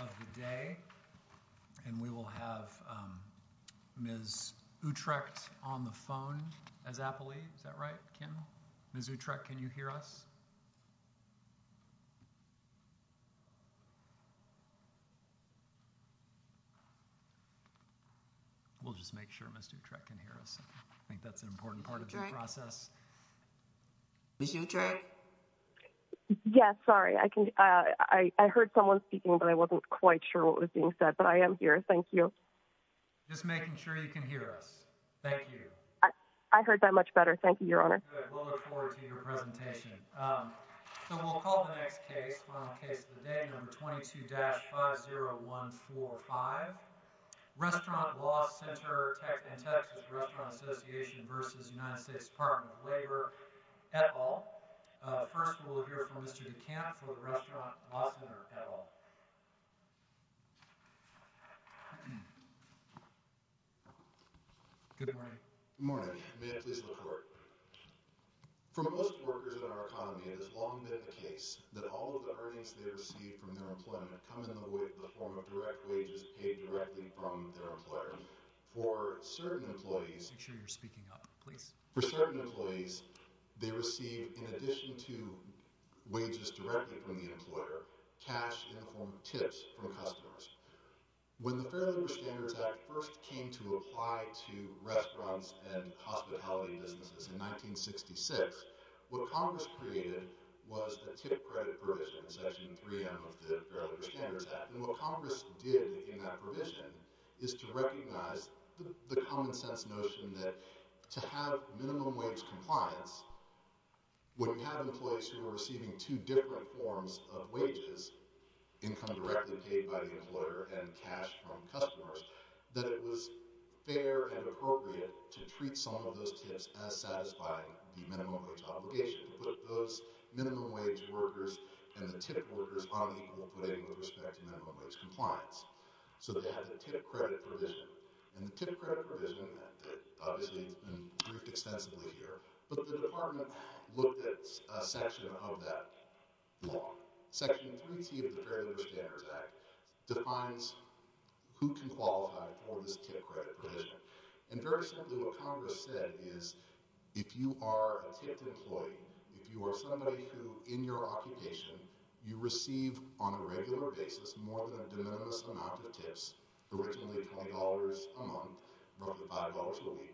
of the day and we will have Ms. Utrecht on the phone as appellee. Is that right Kim? Ms. Utrecht, can you hear us? We'll just make sure Ms. Utrecht can hear us. I think that's an important part of the process. Ms. Utrecht? Yes, sorry. I heard someone speaking but I wasn't quite sure what was being said. But I am here. Thank you. Just making sure you can hear us. Thank you. I heard that much better. Thank you, Your Honor. We'll look forward to your presentation. So we'll call the next case, final case of the day, number 22-50145. Restaurant Law Center, Texas Restaurant Association v. United States Department of Labor, et al. First we'll hear from Mr. DeCamp for the Restaurant Law Center, et al. Good morning. Good morning. May I please look forward? For most workers in our economy, it has long been the case that all of the earnings they receive from their employment come in the form of direct wages paid directly from their employer. For certain employees— Make sure you're speaking up, please. For certain employees, they receive, in addition to wages directly from the employer, cash in the form of tips from customers. When the Fair Labor Standards Act first came to apply to restaurants and hospitality businesses in 1966, what Congress created was the tip credit provision in Section 3M of the Fair Labor Standards Act. And what Congress did in that provision is to recognize the common sense notion that to have minimum wage compliance, when you have employees who are receiving two different forms of wages, income directly paid by the employer and cash from customers, that it was fair and appropriate to treat some of those tips as satisfying the minimum wage obligation. To put those minimum wage workers and the tip workers on equal footing with respect to minimum wage compliance. So they had the tip credit provision. And the tip credit provision, that obviously has been briefed extensively here, but the Department looked at a section of that law. Section 3T of the Fair Labor Standards Act defines who can qualify for this tip credit provision. And very simply, what Congress said is, if you are a tipped employee, if you are somebody who, in your occupation, you receive on a regular basis more than a de minimis amount of tips— originally $20 a month, roughly $5 a week,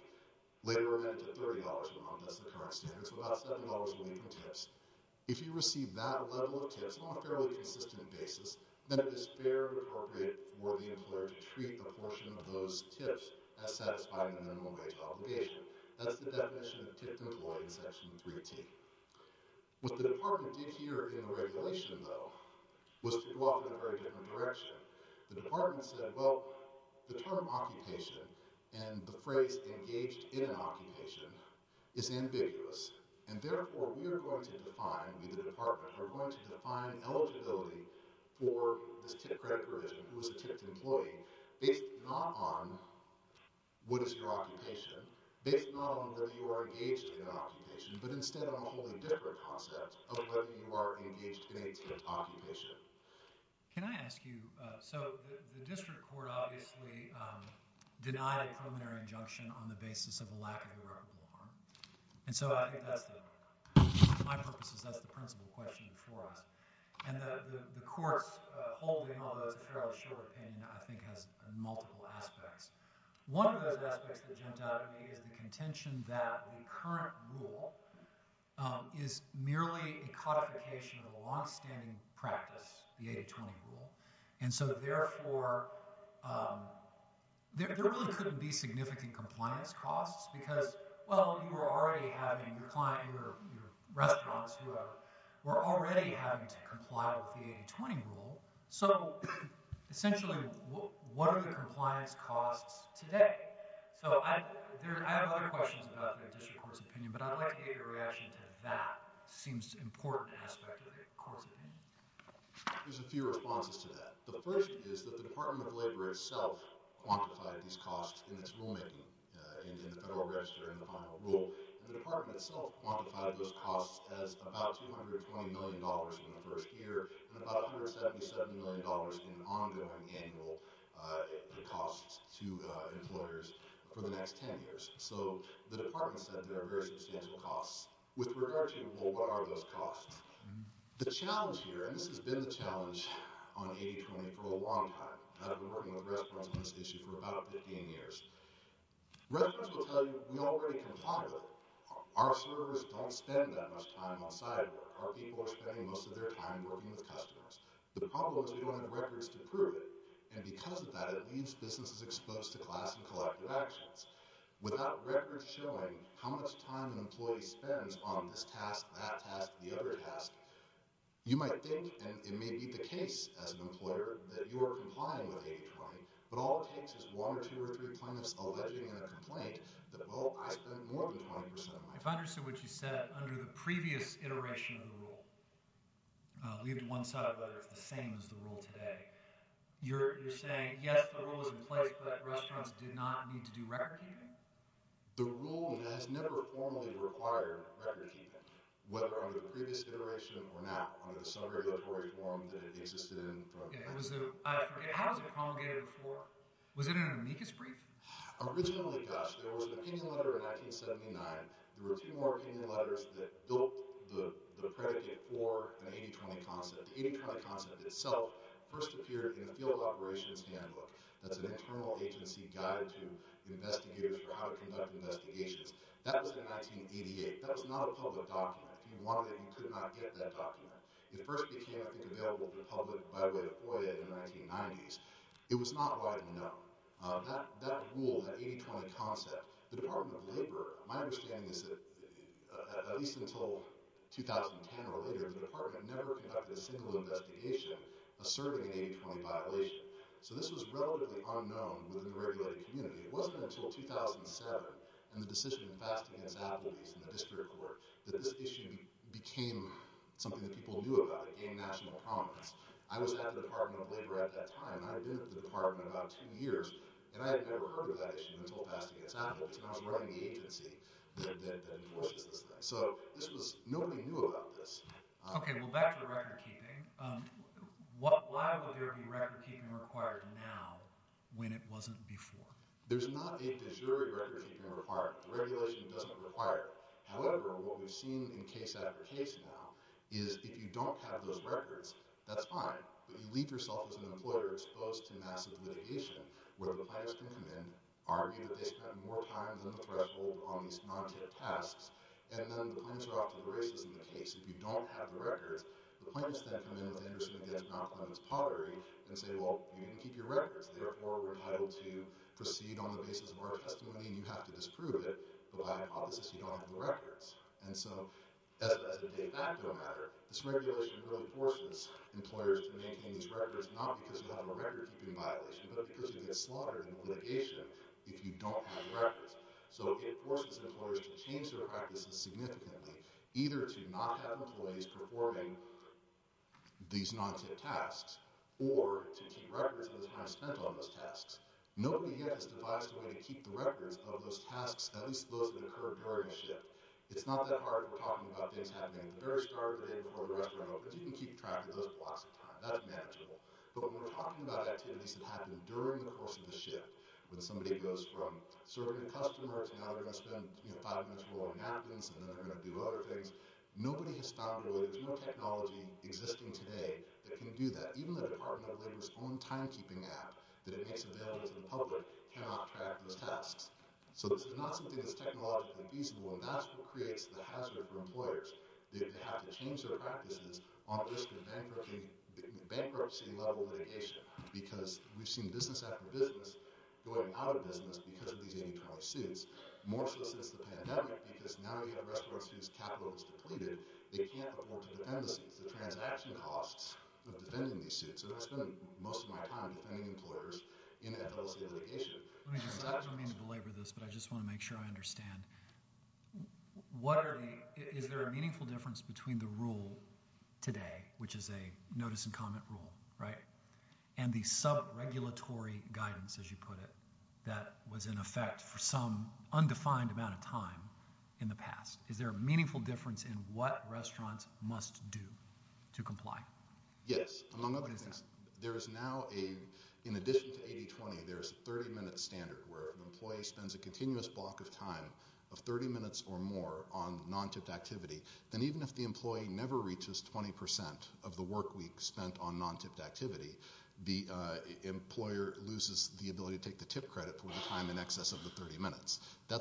later went up to $30 a month. That's the current standard, so about $7 a week in tips. If you receive that level of tips on a fairly consistent basis, then it is fair and appropriate for the employer to treat a portion of those tips as satisfying the minimum wage obligation. That's the definition of tipped employee in Section 3T. What the Department did here in the regulation, though, was to go off in a very different direction. The Department said, well, the term occupation and the phrase engaged in an occupation is ambiguous. And therefore, we are going to define—we, the Department, are going to define eligibility for this tip credit provision, who is a tipped employee, based not on what is your occupation, based not on whether you are engaged in an occupation, but instead on a wholly different concept of whether you are engaged in a tipped occupation. Can I ask you—so the district court obviously denied a preliminary injunction on the basis of a lack of irreparable harm, and so I think that's the— for my purposes, that's the principal question for us. And the court's holding, although it's a fairly short opinion, I think has multiple aspects. One of those aspects that jumped out at me is the contention that the current rule is merely a codification of a longstanding practice, the 80-20 rule, and so therefore, there really couldn't be significant compliance costs because, well, you were already having your client, your restaurants, who were already having to comply with the 80-20 rule. So essentially, what are the compliance costs today? So I have other questions about the district court's opinion, but I'd like to hear your reaction to that seems important aspect of the court's opinion. There's a few responses to that. The first is that the Department of Labor itself quantified these costs in its rulemaking, in the Federal Register and the final rule, and the department itself quantified those costs as about $220 million in the first year and about $177 million in ongoing annual costs to employers for the next 10 years. So the department said there are very substantial costs. With regard to, well, what are those costs? The challenge here, and this has been the challenge on 80-20 for a long time. I've been working with restaurants on this issue for about 15 years. Restaurants will tell you, we already comply with it. Our servers don't spend that much time on cyber. Our people are spending most of their time working with customers. The problem is we don't have records to prove it, and because of that, it leaves businesses exposed to class and collective actions. Without records showing how much time an employee spends on this task, that task, the other task, you might think, and it may be the case as an employer, that you are complying with 80-20, but all it takes is one or two or three plaintiffs alleging in a complaint that, well, I spent more than 20% of my time. If I understand what you said, under the previous iteration of the rule, leave it to one side or the other, it's the same as the rule today. You're saying, yes, the rule is in place, but restaurants do not need to do record-keeping? The rule has never formally required record-keeping, whether under the previous iteration or now, under some regulatory form that it existed in from the beginning. How was it promulgated before? Was it an amicus brief? Originally, yes. There was an opinion letter in 1979. There were two more opinion letters that built the predicate for the 80-20 concept. The 80-20 concept itself first appeared in the Field Operations Handbook. That's an internal agency guide to investigators for how to conduct investigations. That was in 1988. That was not a public document. If you wanted it, you could not get that document. It first became, I think, available to the public by way of FOIA in the 1990s. It was not widely known. That rule, that 80-20 concept, the Department of Labor, my understanding is that at least until 2010 or later, the Department never conducted a single investigation asserting an 80-20 violation. So this was relatively unknown within the regulatory community. It wasn't until 2007 and the decision in the District Court that this issue became something that people knew about, a national promise. I was at the Department of Labor at that time. I had been at the Department about two years, and I had never heard of that issue until past examples, and I was running the agency that enforces this thing. So nobody knew about this. Okay, well, back to recordkeeping. Why would there be recordkeeping required now when it wasn't before? There's not a de jure recordkeeping requirement. The regulation doesn't require it. However, what we've seen in case after case now is if you don't have those records, that's fine, but you leave yourself as an employer exposed to massive litigation where the plaintiffs can come in, argue that they spent more time than the threshold on these non-tip tasks, and then the plaintiffs are off to the races in the case. If you don't have the records, the plaintiffs then come in and say, well, you didn't keep your records, therefore we're not able to proceed on the basis of our testimony, and you have to disprove it, but by hypothesis you don't have the records. And so as a de facto matter, this regulation really forces employers to maintain these records not because you have a recordkeeping violation, but because you get slaughtered in litigation if you don't have records. So it forces employers to change their practices significantly, either to not have employees performing these non-tip tasks or to keep records of the time spent on those tasks. Nobody yet has devised a way to keep the records of those tasks, at least those that occur during a shift. It's not that hard. We're talking about things happening at the very start of the day before the rest are over. You can keep track of those blocks of time. That's manageable. But when we're talking about activities that happen during the course of the shift, when somebody goes from serving customers, now they're going to spend five minutes rolling napkins, and then they're going to do other things, nobody has found really there's no technology existing today that can do that. Even the Department of Labor's own timekeeping app that it makes available to the public cannot track those tasks. So this is not something that's technologically feasible, and that's what creates the hazard for employers. They have to change their practices on the risk of bankruptcy-level litigation because we've seen business after business going out of business because of these 80-12 suits. More so since the pandemic, because now we have restaurants whose capital is depleted, they can't afford to defend the suits, the transaction costs of defending these suits, and I've spent most of my time defending employers in an LLC litigation. Let me just, I don't mean to belabor this, but I just want to make sure I understand. What are the, is there a meaningful difference between the rule today, which is a notice and comment rule, right? And the sub-regulatory guidance, as you put it, that was in effect for some undefined amount of time in the past. Is there a meaningful difference in what restaurants must do to comply? Yes. Among other things, there is now a, in addition to 80-20, there is a 30-minute standard where an employee spends a continuous block of time of 30 minutes or more on non-tipped activity. Then even if the employee never reaches 20% of the work week spent on non-tipped activity, the employer loses the ability to take the tip credit for the time in excess of the 30 minutes. You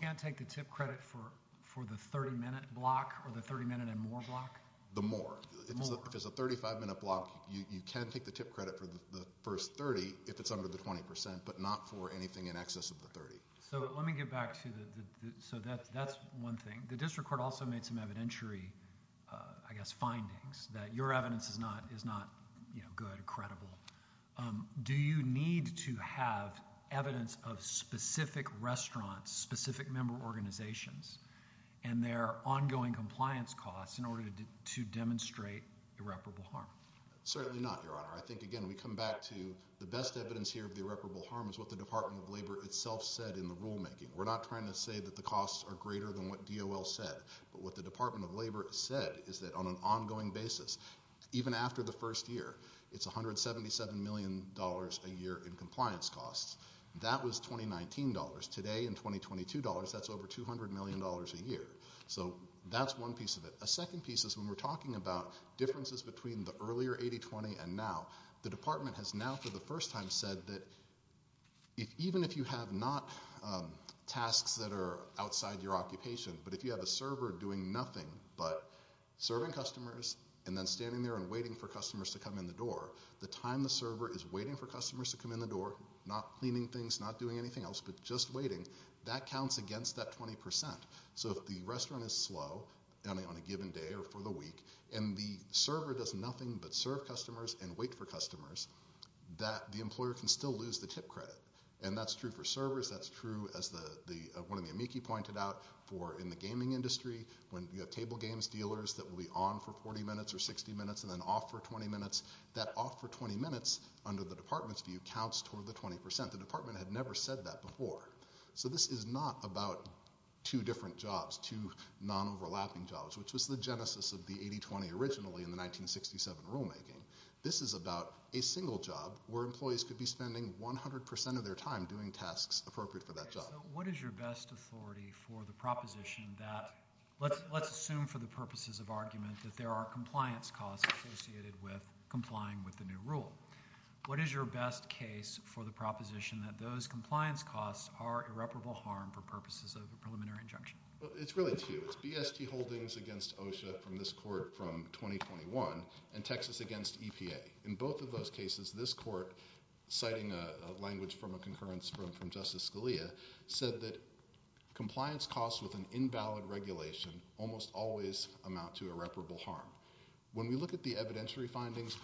can't take the tip credit for the 30-minute block or the 30-minute and more block? The more. If it's a 35-minute block, you can take the tip credit for the first 30 if it's under the 20%, but not for anything in excess of the 30. So let me get back to the, so that's one thing. The district court also made some evidentiary, I guess, findings that your evidence is not good or credible. Do you need to have evidence of specific restaurants, specific member organizations, and their ongoing compliance costs in order to demonstrate irreparable harm? Certainly not, Your Honor. I think, again, we come back to the best evidence here of irreparable harm is what the Department of Labor itself said in the rulemaking. We're not trying to say that the costs are greater than what DOL said, but what the Department of Labor said is that on an ongoing basis, even after the first year, it's $177 million a year in compliance costs. That was 2019 dollars. Today, in 2022 dollars, that's over $200 million a year. So that's one piece of it. A second piece is when we're talking about differences between the earlier 80-20 and now, the department has now, for the first time, said that even if you have not tasks that are outside your occupation, but if you have a server doing nothing but serving customers and then standing there and waiting for customers to come in the door, the time the server is waiting for customers to come in the door, not cleaning things, not doing anything else, but just waiting, that counts against that 20%. So if the restaurant is slow on a given day or for the week and the server does nothing but serve customers and wait for customers, the employer can still lose the tip credit. And that's true for servers. That's true, as one of the amici pointed out, for in the gaming industry when you have table games dealers that will be on for 40 minutes or 60 minutes and then off for 20 minutes, that off for 20 minutes under the department's view counts toward the 20%. The department had never said that before. So this is not about two different jobs, two non-overlapping jobs, which was the genesis of the 80-20 originally in the 1967 rulemaking. This is about a single job where employees could be spending 100% of their time doing tasks appropriate for that job. So what is your best authority for the proposition that let's assume for the purposes of argument that there are compliance costs associated with complying with the new rule. What is your best case for the proposition that those compliance costs are irreparable harm for purposes of a preliminary injunction? It's really two. It's BST Holdings against OSHA from this court from 2021 and Texas against EPA. In both of those cases, this court, citing a language from a concurrence from Justice Scalia, said that compliance costs with an invalid regulation almost always amount to irreparable harm. When we look at the evidentiary findings,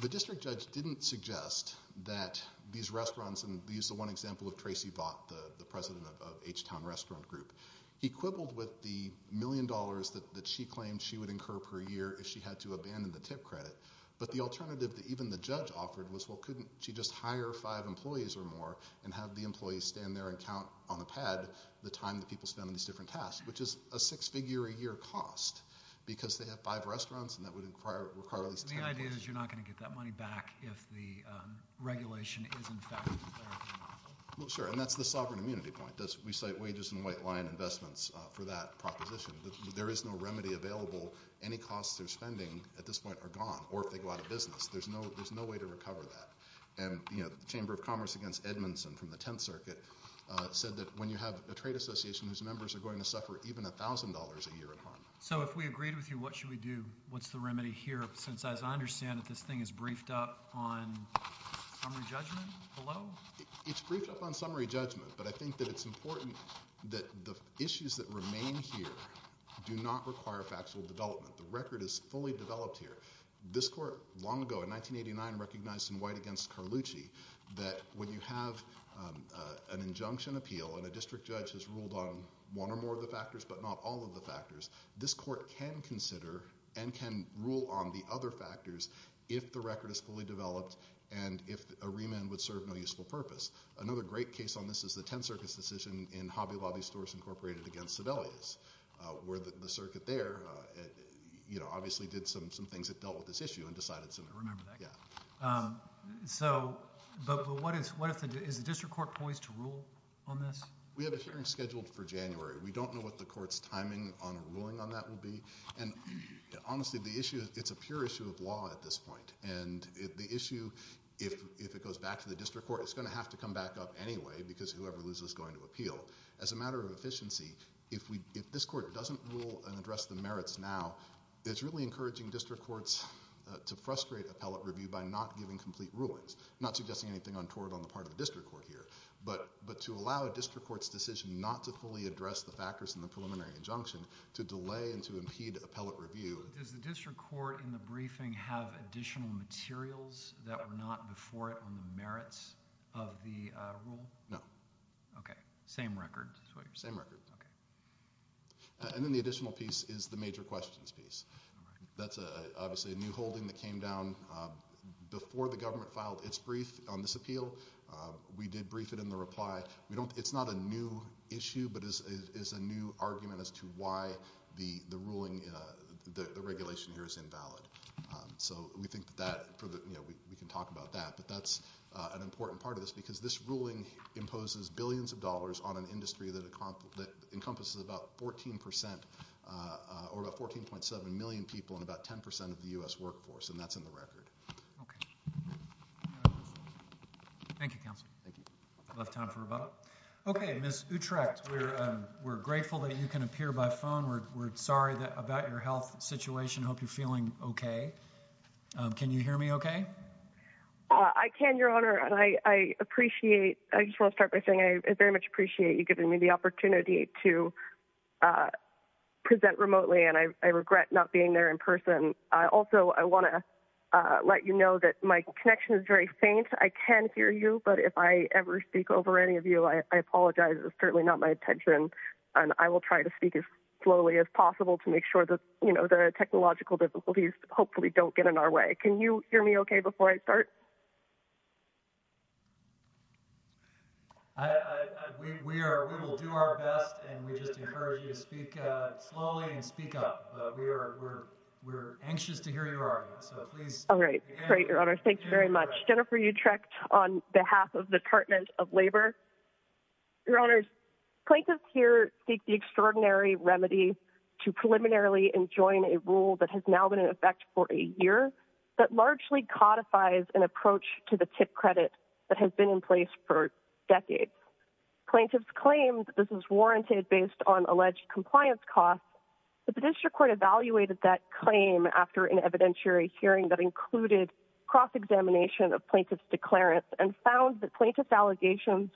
the district judge didn't suggest that these restaurants, and this is one example of Tracy Vaught, the president of H-Town Restaurant Group. He quibbled with the million dollars that she claimed she would incur per year if she had to abandon the tip credit. But the alternative that even the judge offered was, well, couldn't she just hire five employees or more and have the employees stand there and count on the pad the time that people spend on these different tasks, which is a six-figure-a-year cost because they have five restaurants and that would require at least ten employees. The idea is you're not going to get that money back if the regulation is in effect. Well, sure, and that's the sovereign immunity point. We cite wages and white line investments for that proposition. There is no remedy available. Any costs of spending at this point are gone, or if they go out of business. There's no way to recover that. The Chamber of Commerce against Edmondson from the Tenth Circuit said that when you have a trade association whose members are going to suffer even $1,000 a year in harm. So if we agreed with you, what should we do? What's the remedy here since, as I understand it, this thing is briefed up on summary judgment below? It's briefed up on summary judgment, but I think that it's important that the issues that remain here do not require factual development. The record is fully developed here. This court long ago, in 1989, recognized in White against Carlucci that when you have an injunction appeal and a district judge has ruled on one or more of the factors but not all of the factors, this court can consider and can rule on the other factors if the record is fully developed and if a remand would serve no useful purpose. Another great case on this is the Tenth Circuit's decision in Hobby Lobby Stores Incorporated against Sebelius where the circuit there obviously did some things that dealt with this issue and decided sooner or later. I remember that. But is the district court poised to rule on this? We have a hearing scheduled for January. We don't know what the court's timing on a ruling on that will be. And honestly, it's a pure issue of law at this point. And the issue, if it goes back to the district court, it's going to have to come back up anyway because whoever loses is going to appeal. As a matter of efficiency, if this court doesn't rule and address the merits now, it's really encouraging district courts to frustrate appellate review by not giving complete rulings, not suggesting anything untoward on the part of the district court here, but to allow a district court's decision not to fully address the factors in the preliminary injunction to delay and to impede appellate review. Does the district court in the briefing have additional materials that were not before it on the merits of the rule? No. Okay. Same record. Same record. Okay. And then the additional piece is the major questions piece. That's obviously a new holding that came down before the government filed its brief on this appeal. We did brief it in the reply. It's not a new issue, but it's a new argument as to why the ruling, the regulation here is invalid. So we think that we can talk about that, but that's an important part of this because this ruling imposes billions of dollars on an industry that encompasses about 14% or about 14.7 million people in about 10% of the U.S. workforce, and that's in the record. Okay. Thank you, counsel. Thank you. We'll have time for rebuttal. Okay, Ms. Utrecht, we're grateful that you can appear by phone. We're sorry about your health situation. Hope you're feeling okay. Can you hear me okay? I can, Your Honor, and I appreciate. I just want to start by saying I very much appreciate you giving me the opportunity to present remotely, and I regret not being there in person. Also, I want to let you know that my connection is very faint. I can hear you, but if I ever speak over any of you, I apologize. It's certainly not my intention, and I will try to speak as slowly as possible to make sure that, you know, the technological difficulties hopefully don't get in our way. Can you hear me okay before I start? We will do our best, and we just encourage you to speak slowly and speak up. We're anxious to hear your arguments, so please. All right. Great, Your Honor. Jennifer Utrecht on behalf of the Department of Labor. Your Honor, plaintiffs here seek the extraordinary remedy to preliminarily enjoin a rule that has now been in effect for a year that largely codifies an approach to the TIP credit that has been in place for decades. Plaintiffs claim this is warranted based on alleged compliance costs, but the district court evaluated that claim after an evidentiary hearing that included cross-examination of plaintiffs' declarants and found that plaintiffs' allegations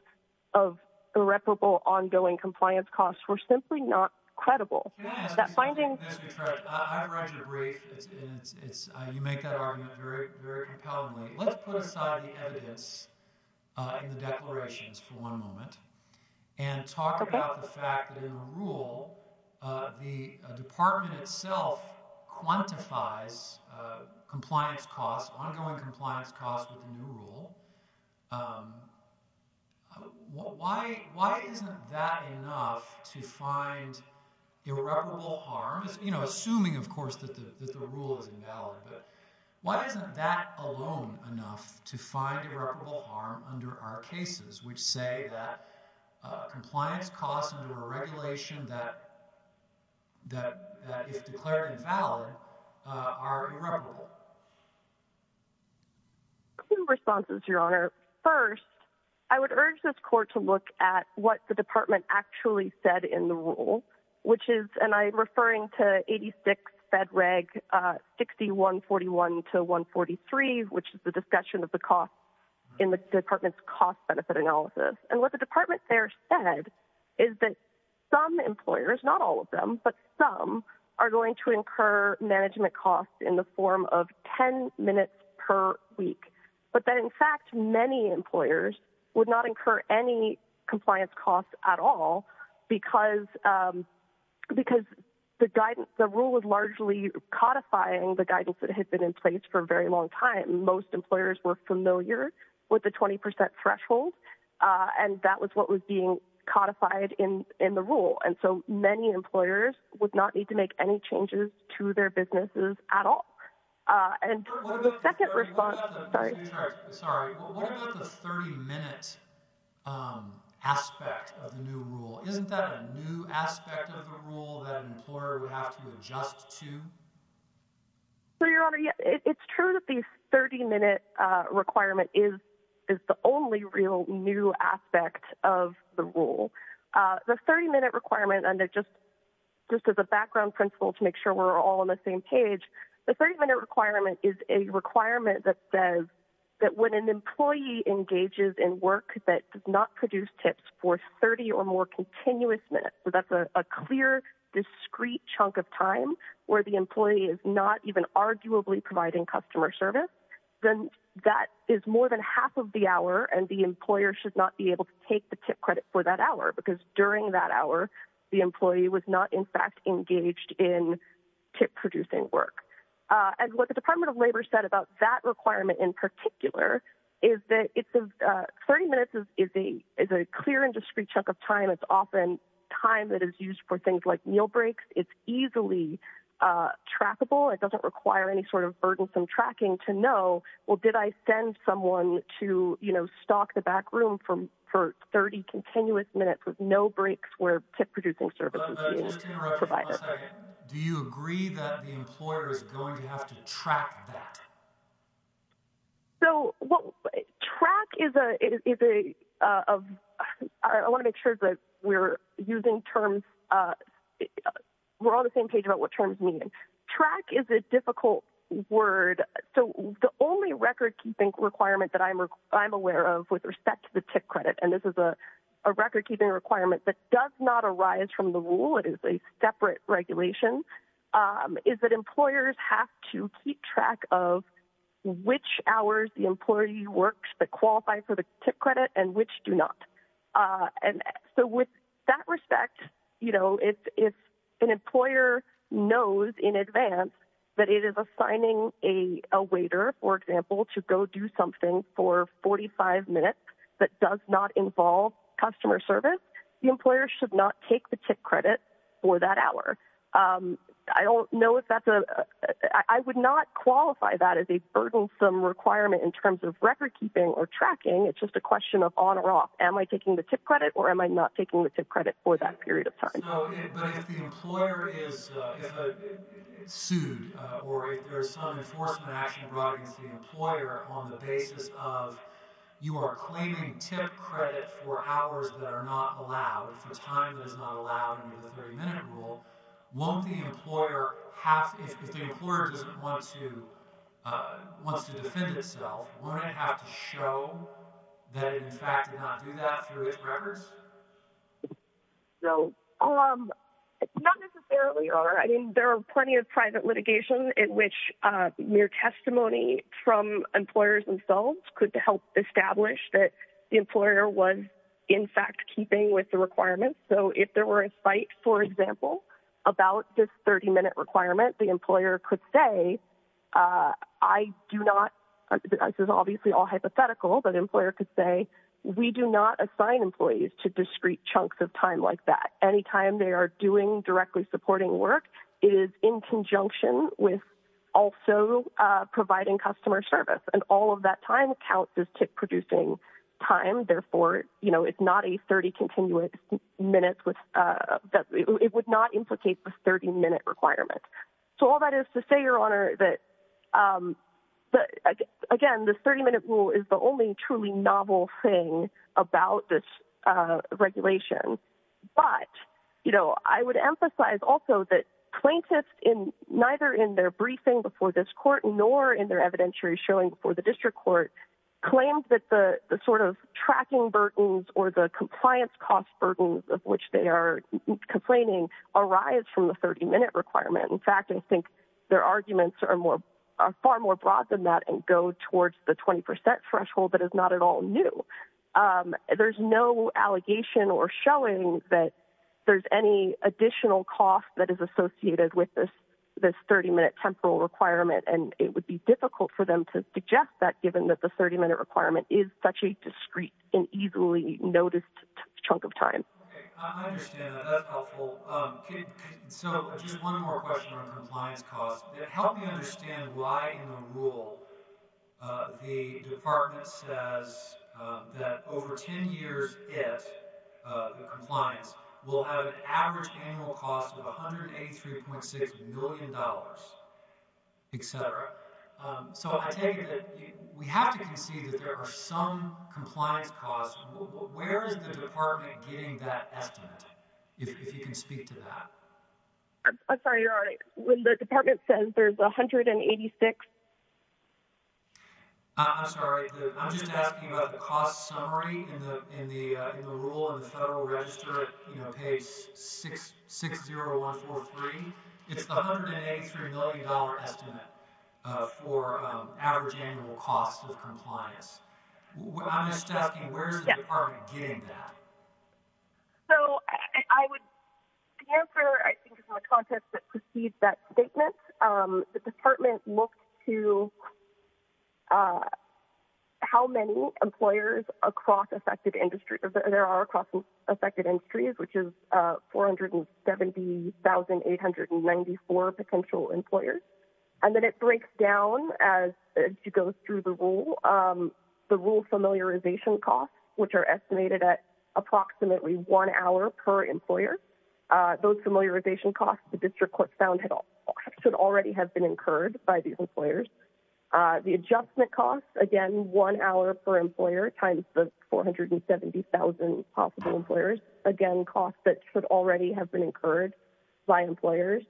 of irreparable ongoing compliance costs were simply not credible. Can I ask you something, Ms. Utrecht? I've read your brief, and you make that argument very compellingly. Let's put aside the evidence in the declarations for one moment and talk about the fact that in the rule, the department itself quantifies compliance costs, ongoing compliance costs with the new rule. Why isn't that enough to find irreparable harm? Assuming, of course, that the rule is invalid, but why isn't that alone enough to find irreparable harm under our cases which say that compliance costs under a regulation that, if declared invalid, are irreparable? A few responses, Your Honor. First, I would urge this court to look at what the department actually said in the rule, which is, and I'm referring to 86 Fed Reg 60141-143, which is the discussion of the costs in the department's cost-benefit analysis. And what the department there said is that some employers, not all of them, but some, are going to incur management costs in the form of 10 minutes per week. But that, in fact, many employers would not incur any compliance costs at all because the rule was largely codifying the guidance that had been in place for a very long time. Most employers were familiar with the 20% threshold, and that was what was being codified in the rule. And so many employers would not need to make any changes to their businesses at all. And the second response— What about the 30-minute aspect of the new rule? Isn't that a new aspect of the rule that an employer would have to adjust to? Your Honor, it's true that the 30-minute requirement is the only real new aspect of the rule. The 30-minute requirement, and just as a background principle to make sure we're all on the same page, the 30-minute requirement is a requirement that says that when an employee engages in work that does not produce tips for 30 or more continuous minutes, so that's a clear, discrete chunk of time where the employee is not even arguably providing customer service, then that is more than half of the hour, and the employer should not be able to take the tip credit for that hour because during that hour the employee was not in fact engaged in tip-producing work. And what the Department of Labor said about that requirement in particular is that 30 minutes is a clear and discrete chunk of time. It's often time that is used for things like meal breaks. It's easily trackable. It doesn't require any sort of burdensome tracking to know, well, did I send someone to, you know, stalk the back room for 30 continuous minutes with no breaks where tip-producing services is provided? Do you agree that the employer is going to have to track that? So track is a—I want to make sure that we're using terms—we're on the same page about what terms mean. Track is a difficult word. So the only record-keeping requirement that I'm aware of with respect to the tip credit, and this is a record-keeping requirement that does not arise from the rule, it is a separate regulation, is that employers have to keep track of which hours the employee works that qualify for the tip credit and which do not. And so with that respect, you know, if an employer knows in advance that it is assigning a waiter, for example, to go do something for 45 minutes that does not involve customer service, the employer should not take the tip credit for that hour. I don't know if that's a—I would not qualify that as a burdensome requirement in terms of record-keeping or tracking. It's just a question of on or off. Am I taking the tip credit or am I not taking the tip credit for that period of time? But if the employer is sued or if there's some enforcement action brought against the employer on the basis of you are claiming tip credit for hours that are not allowed, for time that is not allowed under the 30-minute rule, won't the employer have—if the employer doesn't want to—wants to defend itself, wouldn't it have to show that it, in fact, did not do that through its records? No. Not necessarily, Your Honor. I mean, there are plenty of private litigation in which mere testimony from employers themselves could help establish that the employer was, in fact, keeping with the requirements. So if there were a fight, for example, about this 30-minute requirement, the employer could say, I do not—this is obviously all hypothetical, but the employer could say, we do not assign employees to discrete chunks of time like that. Any time they are doing directly supporting work is in conjunction with also providing customer service, and all of that time counts as tip-producing time. Therefore, it's not a 30-continuous minute—it would not implicate the 30-minute requirement. So all that is to say, Your Honor, that, again, the 30-minute rule is the only truly novel thing about this regulation. But I would emphasize also that plaintiffs, neither in their briefing before this court nor in their evidentiary showing before the district court, claim that the sort of tracking burdens or the compliance cost burdens of which they are complaining arise from the 30-minute requirement. In fact, I think their arguments are far more broad than that and go towards the 20 percent threshold that is not at all new. There's no allegation or showing that there's any additional cost that is associated with this 30-minute temporal requirement, and it would be difficult for them to suggest that given that the 30-minute requirement is such a discrete and easily noticed chunk of time. Okay, I understand that. That's helpful. So just one more question on compliance costs. Help me understand why in the rule the Department says that over 10 years, the compliance will have an average annual cost of $183.6 million, et cetera. So I take it that we have to concede that there are some compliance costs. Where is the Department getting that estimate, if you can speak to that? I'm sorry, Your Honor, when the Department says there's 186? I'm sorry. I'm just asking about the cost summary in the rule in the Federal Register page 60143. It's the $183 million estimate for average annual cost of compliance. I'm just asking, where is the Department getting that? So I would answer, I think, in the context that precedes that statement. The Department looked to how many employers across affected industries, there are across affected industries, which is 470,894 potential employers. And then it breaks down as it goes through the rule, the rule familiarization costs, which are estimated at approximately one hour per employer. Those familiarization costs, the District Court found, should already have been incurred by these employers. The adjustment costs, again, one hour per employer times the 470,000 possible employers. Again, costs that should already have been incurred by employers.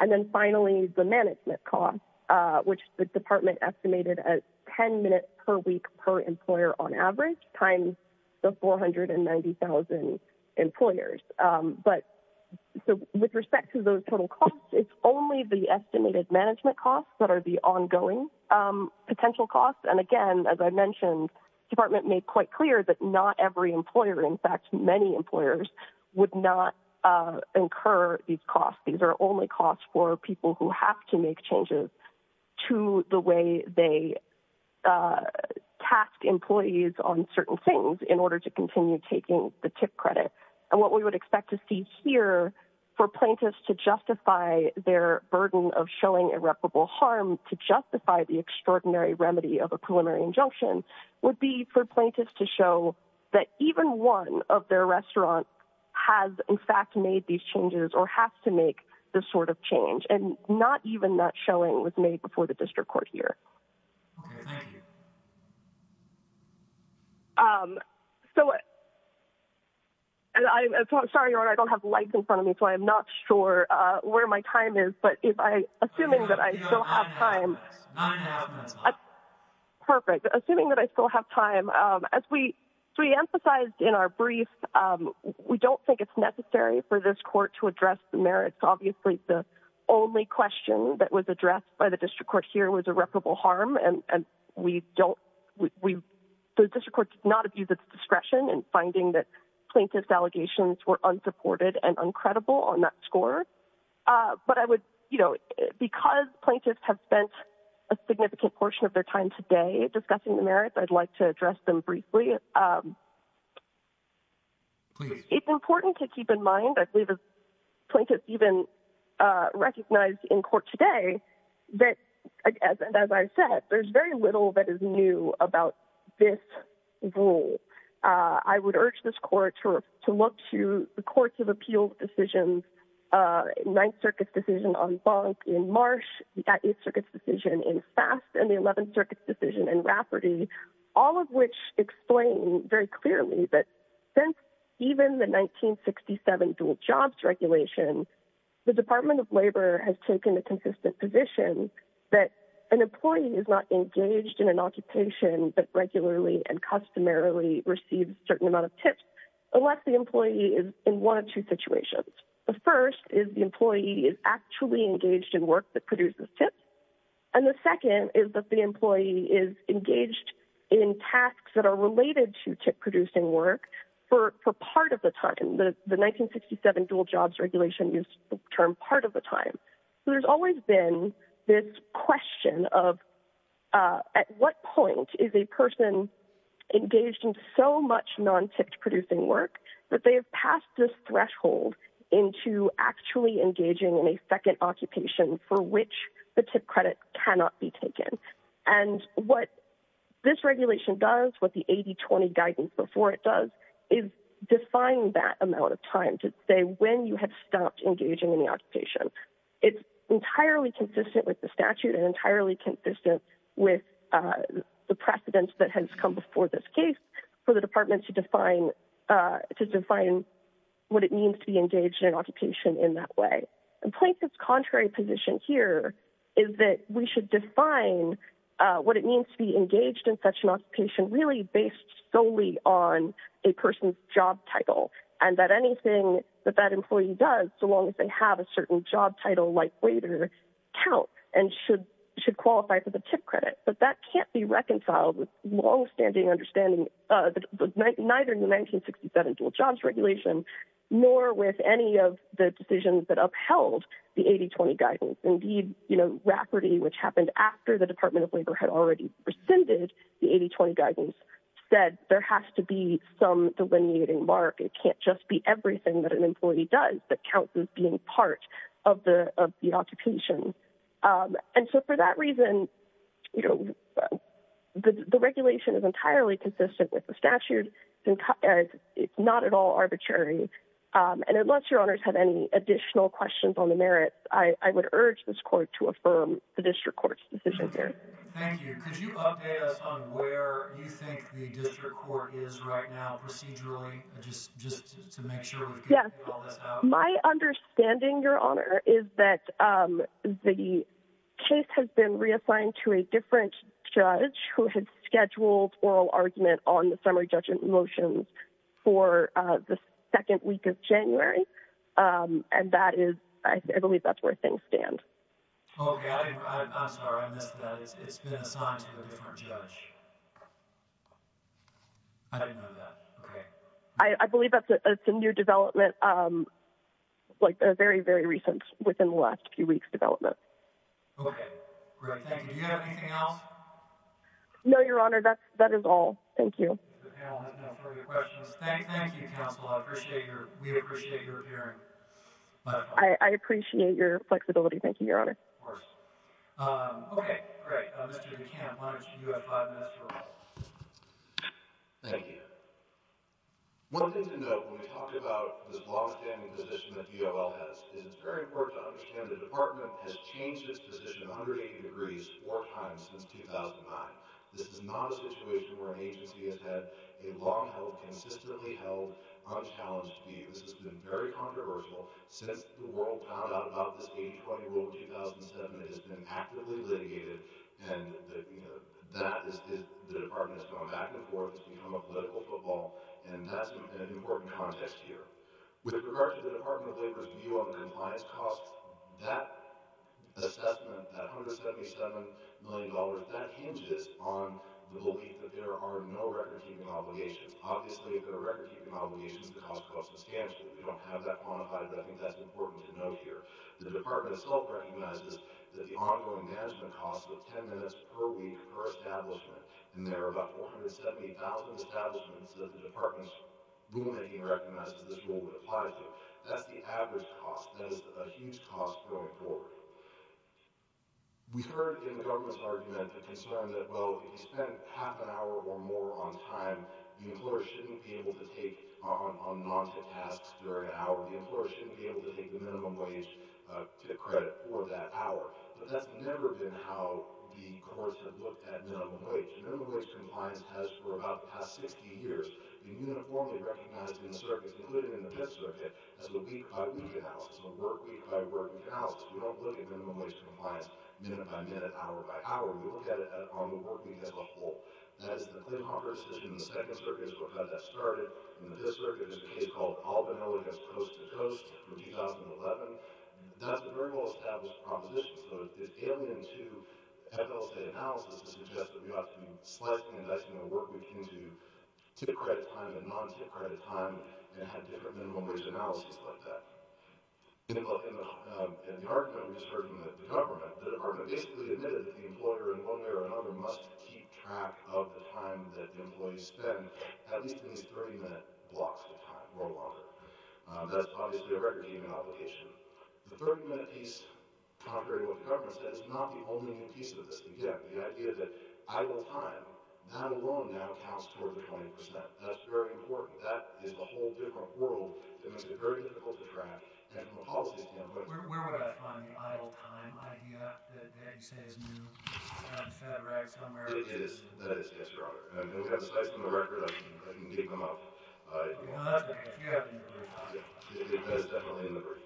And then finally, the management costs, which the Department estimated as 10 minutes per week per employer on average times the 490,000 employers. But with respect to those total costs, it's only the estimated management costs that are the ongoing potential costs. And again, as I mentioned, the Department made quite clear that not every employer, in fact many employers, would not incur these costs. These are only costs for people who have to make changes to the way they task employees on certain things in order to continue taking the TIP credit. And what we would expect to see here for plaintiffs to justify their burden of showing irreparable harm to justify the extraordinary remedy of a preliminary injunction would be for plaintiffs to show that even one of their restaurants has, in fact, made these changes or has to make this sort of change. And not even that showing was made before the District Court here. Okay. Thank you. So I'm sorry, Your Honor, I don't have lights in front of me, so I'm not sure where my time is. But assuming that I still have time, perfect. Assuming that I still have time, as we emphasized in our brief, we don't think it's necessary for this court to address the merits. Obviously the only question that was addressed by the District Court here was irreparable harm, and the District Court did not abuse its discretion in finding that plaintiffs' allegations were unsupported and uncreditable on that score. But because plaintiffs have spent a significant portion of their time today discussing the merits, I'd like to address them briefly. Please. It's important to keep in mind, I believe as plaintiffs even recognized in court today, that, as I said, there's very little that is new about this rule. I would urge this court to look to the courts of appeals decisions, Ninth Circuit's decision on Bonk in Marsh, the Eighth Circuit's decision in Fast, and the Eleventh Circuit's decision in Rafferty, all of which explain very clearly that since even the 1967 dual jobs regulation, the Department of Labor has taken a consistent position that an employee is not engaged in an occupation that regularly and customarily receives a certain amount of tips unless the employee is in one of two situations. The first is the employee is actually engaged in work that produces tips, and the second is that the employee is engaged in tasks that are related to tip-producing work for part of the time. The 1967 dual jobs regulation used the term part of the time. There's always been this question of at what point is a person engaged in so much non-tipped-producing work that they have passed this threshold into actually engaging in a second occupation for which the tip credit cannot be taken. And what this regulation does, what the 80-20 guidance before it does, is define that amount of time to say when you have stopped engaging in the occupation. It's entirely consistent with the statute and entirely consistent with the precedence that has come before this case for the department to define what it means to be engaged in an occupation in that way. The plaintiff's contrary position here is that we should define what it means to be engaged in such an occupation really based solely on a person's job title and that anything that that employee does, so long as they have a certain job title like waiter, count and should qualify for the tip credit. But that can't be reconciled with long-standing understanding, neither in the 1967 dual jobs regulation, nor with any of the decisions that upheld the 80-20 guidance. Indeed, Rafferty, which happened after the Department of Labor had already rescinded the 80-20 guidance, said there has to be some delineating mark. It can't just be everything that an employee does that counts as being part of the occupation. And so for that reason, the regulation is entirely consistent with the statute. It's not at all arbitrary. And unless your honors have any additional questions on the merits, I would urge this court to affirm the district court's decision here. Thank you. Could you update us on where you think the district court is right now procedurally, just to make sure we're getting all this out? My understanding, Your Honor, is that the case has been reassigned to a different judge who had scheduled oral argument on the summary judgment motions for the second week of January. And that is, I believe that's where things stand. Oh, I'm sorry. I missed that. It's been assigned to a different judge. I didn't know that. Okay. I believe that's a new development, like a very, very recent within the last few weeks development. Okay. Great. Thank you. Do you have anything else? No, Your Honor. That is all. Thank you. The panel has no further questions. Thank you, counsel. I appreciate your, we appreciate your hearing. I appreciate your flexibility. Thank you, Your Honor. Of course. Okay. Great. Mr. McCann, why don't you have five minutes for all. Thank you. One thing to note when we talk about this long-standing position that DOL has is it's very important to understand the department has changed its position 180 degrees four times since 2009. This is not a situation where an agency has had a long-held, consistently held, unchallenged view. This has been very controversial since the world found out about this 820 rule in 2007. It has been actively litigated, and the department has gone back and forth. It's become a political football, and that's an important context here. With regard to the Department of Labor's view on compliance costs, that assessment, that $177 million, that hinges on the belief that there are no record-keeping obligations. Obviously, if there are record-keeping obligations, the cost will be substantial. We don't have that quantified, but I think that's important to note here. The department itself recognizes that the ongoing management costs of 10 minutes per week per establishment, and there are about 470,000 establishments that the department's rulemaking recognizes this rule would apply to. That's the average cost. That is a huge cost going forward. We heard in the government's argument the concern that, well, if you spend half an hour or more on time, the employer shouldn't be able to take on non-tech tasks during the hour. The employer shouldn't be able to take the minimum wage credit for that hour. But that's never been how the courts have looked at minimum wage. Minimum wage compliance has, for about the past 60 years, been uniformly recognized in the circuits, including in the Fifth Circuit, as a week-by-week analysis, a work-week-by-work analysis. We don't look at minimum wage compliance minute-by-minute, hour-by-hour. We look at it on the work week as a whole. That is the Klinghoffer decision in the Second Circuit as to how that started. In the Fifth Circuit, there's a case called All Vanilla Goes Coast to Coast from 2011. That's a very well-established proposition. So it's alien to FSA analysis to suggest that we ought to be slicing and dicing the work week into tip credit time and non-tip credit time and have different minimum wage analyses like that. In the argument we heard from the government, the department basically admitted that the employer, in one way or another, must keep track of the time that the employees spend, at least in these 30-minute blocks of time or longer. That's obviously a record-keeping obligation. The 30-minute piece, contrary to what the government said, is not the only piece of this. Again, the idea that idle time, that alone now, counts toward the 20%. That's very important. That is a whole different world that makes it very difficult to track. Where would I find idle time? Do you have to, as you say, a new Federax number? It is, yes, Your Honor. We have a slice of the record. I can keep them up. Well, that's great. You have them in the brief. That's definitely in the brief.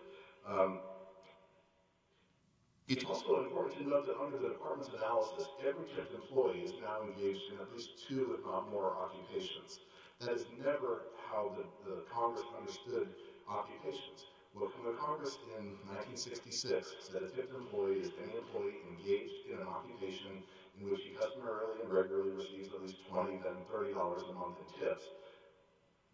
It's also important to note that under the department's analysis, every type of employee is now engaged in at least two, if not more, occupations. That is never how the Congress understood occupations. Well, from the Congress in 1966, it said that if an employee is engaged in an occupation in which he customarily and regularly receives at least $20, then $30 a month in tips,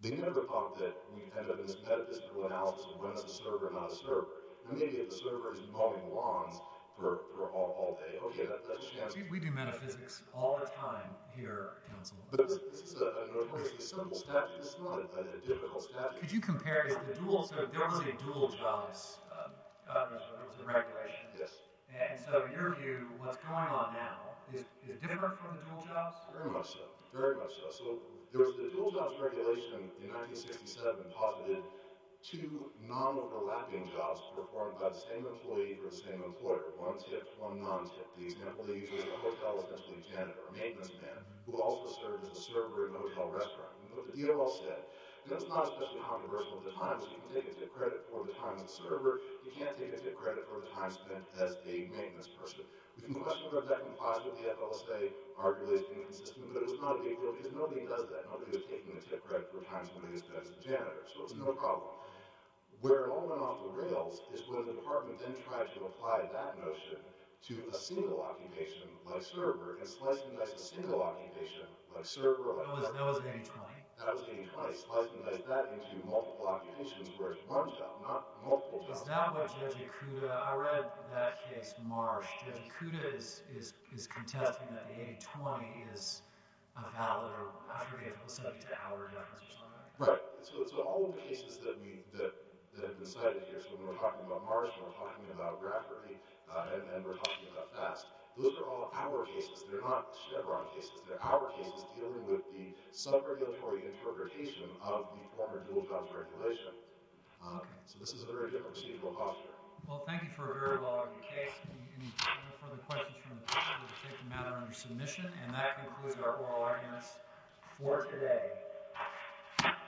they never thought that we'd end up in this metaphysical analysis of when it's a server and not a server. And maybe if the server is mauling lawns for all day, okay, that doesn't matter. We do metaphysics all the time here, counsel. But this is a notoriously simple statute. It's not a difficult statute. Could you compare it to the dual jobs regulations? Yes. And so in your view, what's going on now, is it different from the dual jobs? Very much so. Very much so. So the dual jobs regulation in 1967 posited two non-overlapping jobs performed by the same employee for the same employer, one tip, one non-tip. The employee was a hotel, essentially, janitor, a maintenance man, who also served as a server in a hotel restaurant. And what the DOL said, and it's not especially controversial at the time, is you can take a tip credit for the time as a server. You can't take a tip credit for the time spent as a maintenance person. We can question whether that can positively, I will say, arguably be consistent. But it was not a big deal because nobody does that. Nobody was taking a tip credit for the time somebody spent as a janitor. So it was no problem. Where it all went off the rails is when the department then tried to apply that notion to a single occupation, like server, and sliced and diced a single occupation, like server, like that. That was in 1820. That was in 1820. Sliced and diced that into multiple occupations where it's one job, not multiple jobs. It's not what Jejikuda – I read that case in March. Jejikuda is contesting that the 1820 is a valid, or I forget if it was set up to have or not. Right. So all of the cases that have been cited here, so when we're talking about March, when we're talking about Grafferty, and we're talking about FAST, those are all our cases. They're not Chevron cases. They're our cases dealing with the subregulatory interpretation of the former dual-jobs regulation. So this is a very different stable posture. Well, thank you for a very well-argued case. If you have any further questions from the panel, we'll take them out under submission. And that concludes our oral arguments for today. Thank you. Thank you.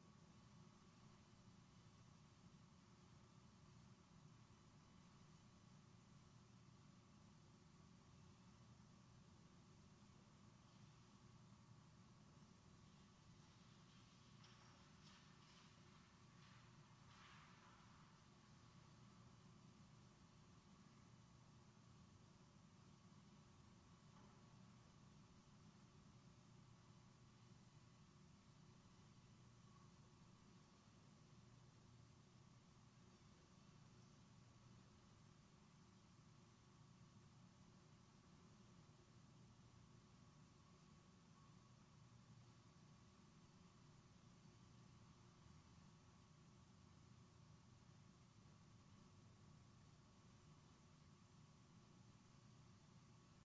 Thank you. Thank you. Thank you. Thank you. Thank you. Thank you. Thank you. Thank you. Thank you. Thank you. Thank you.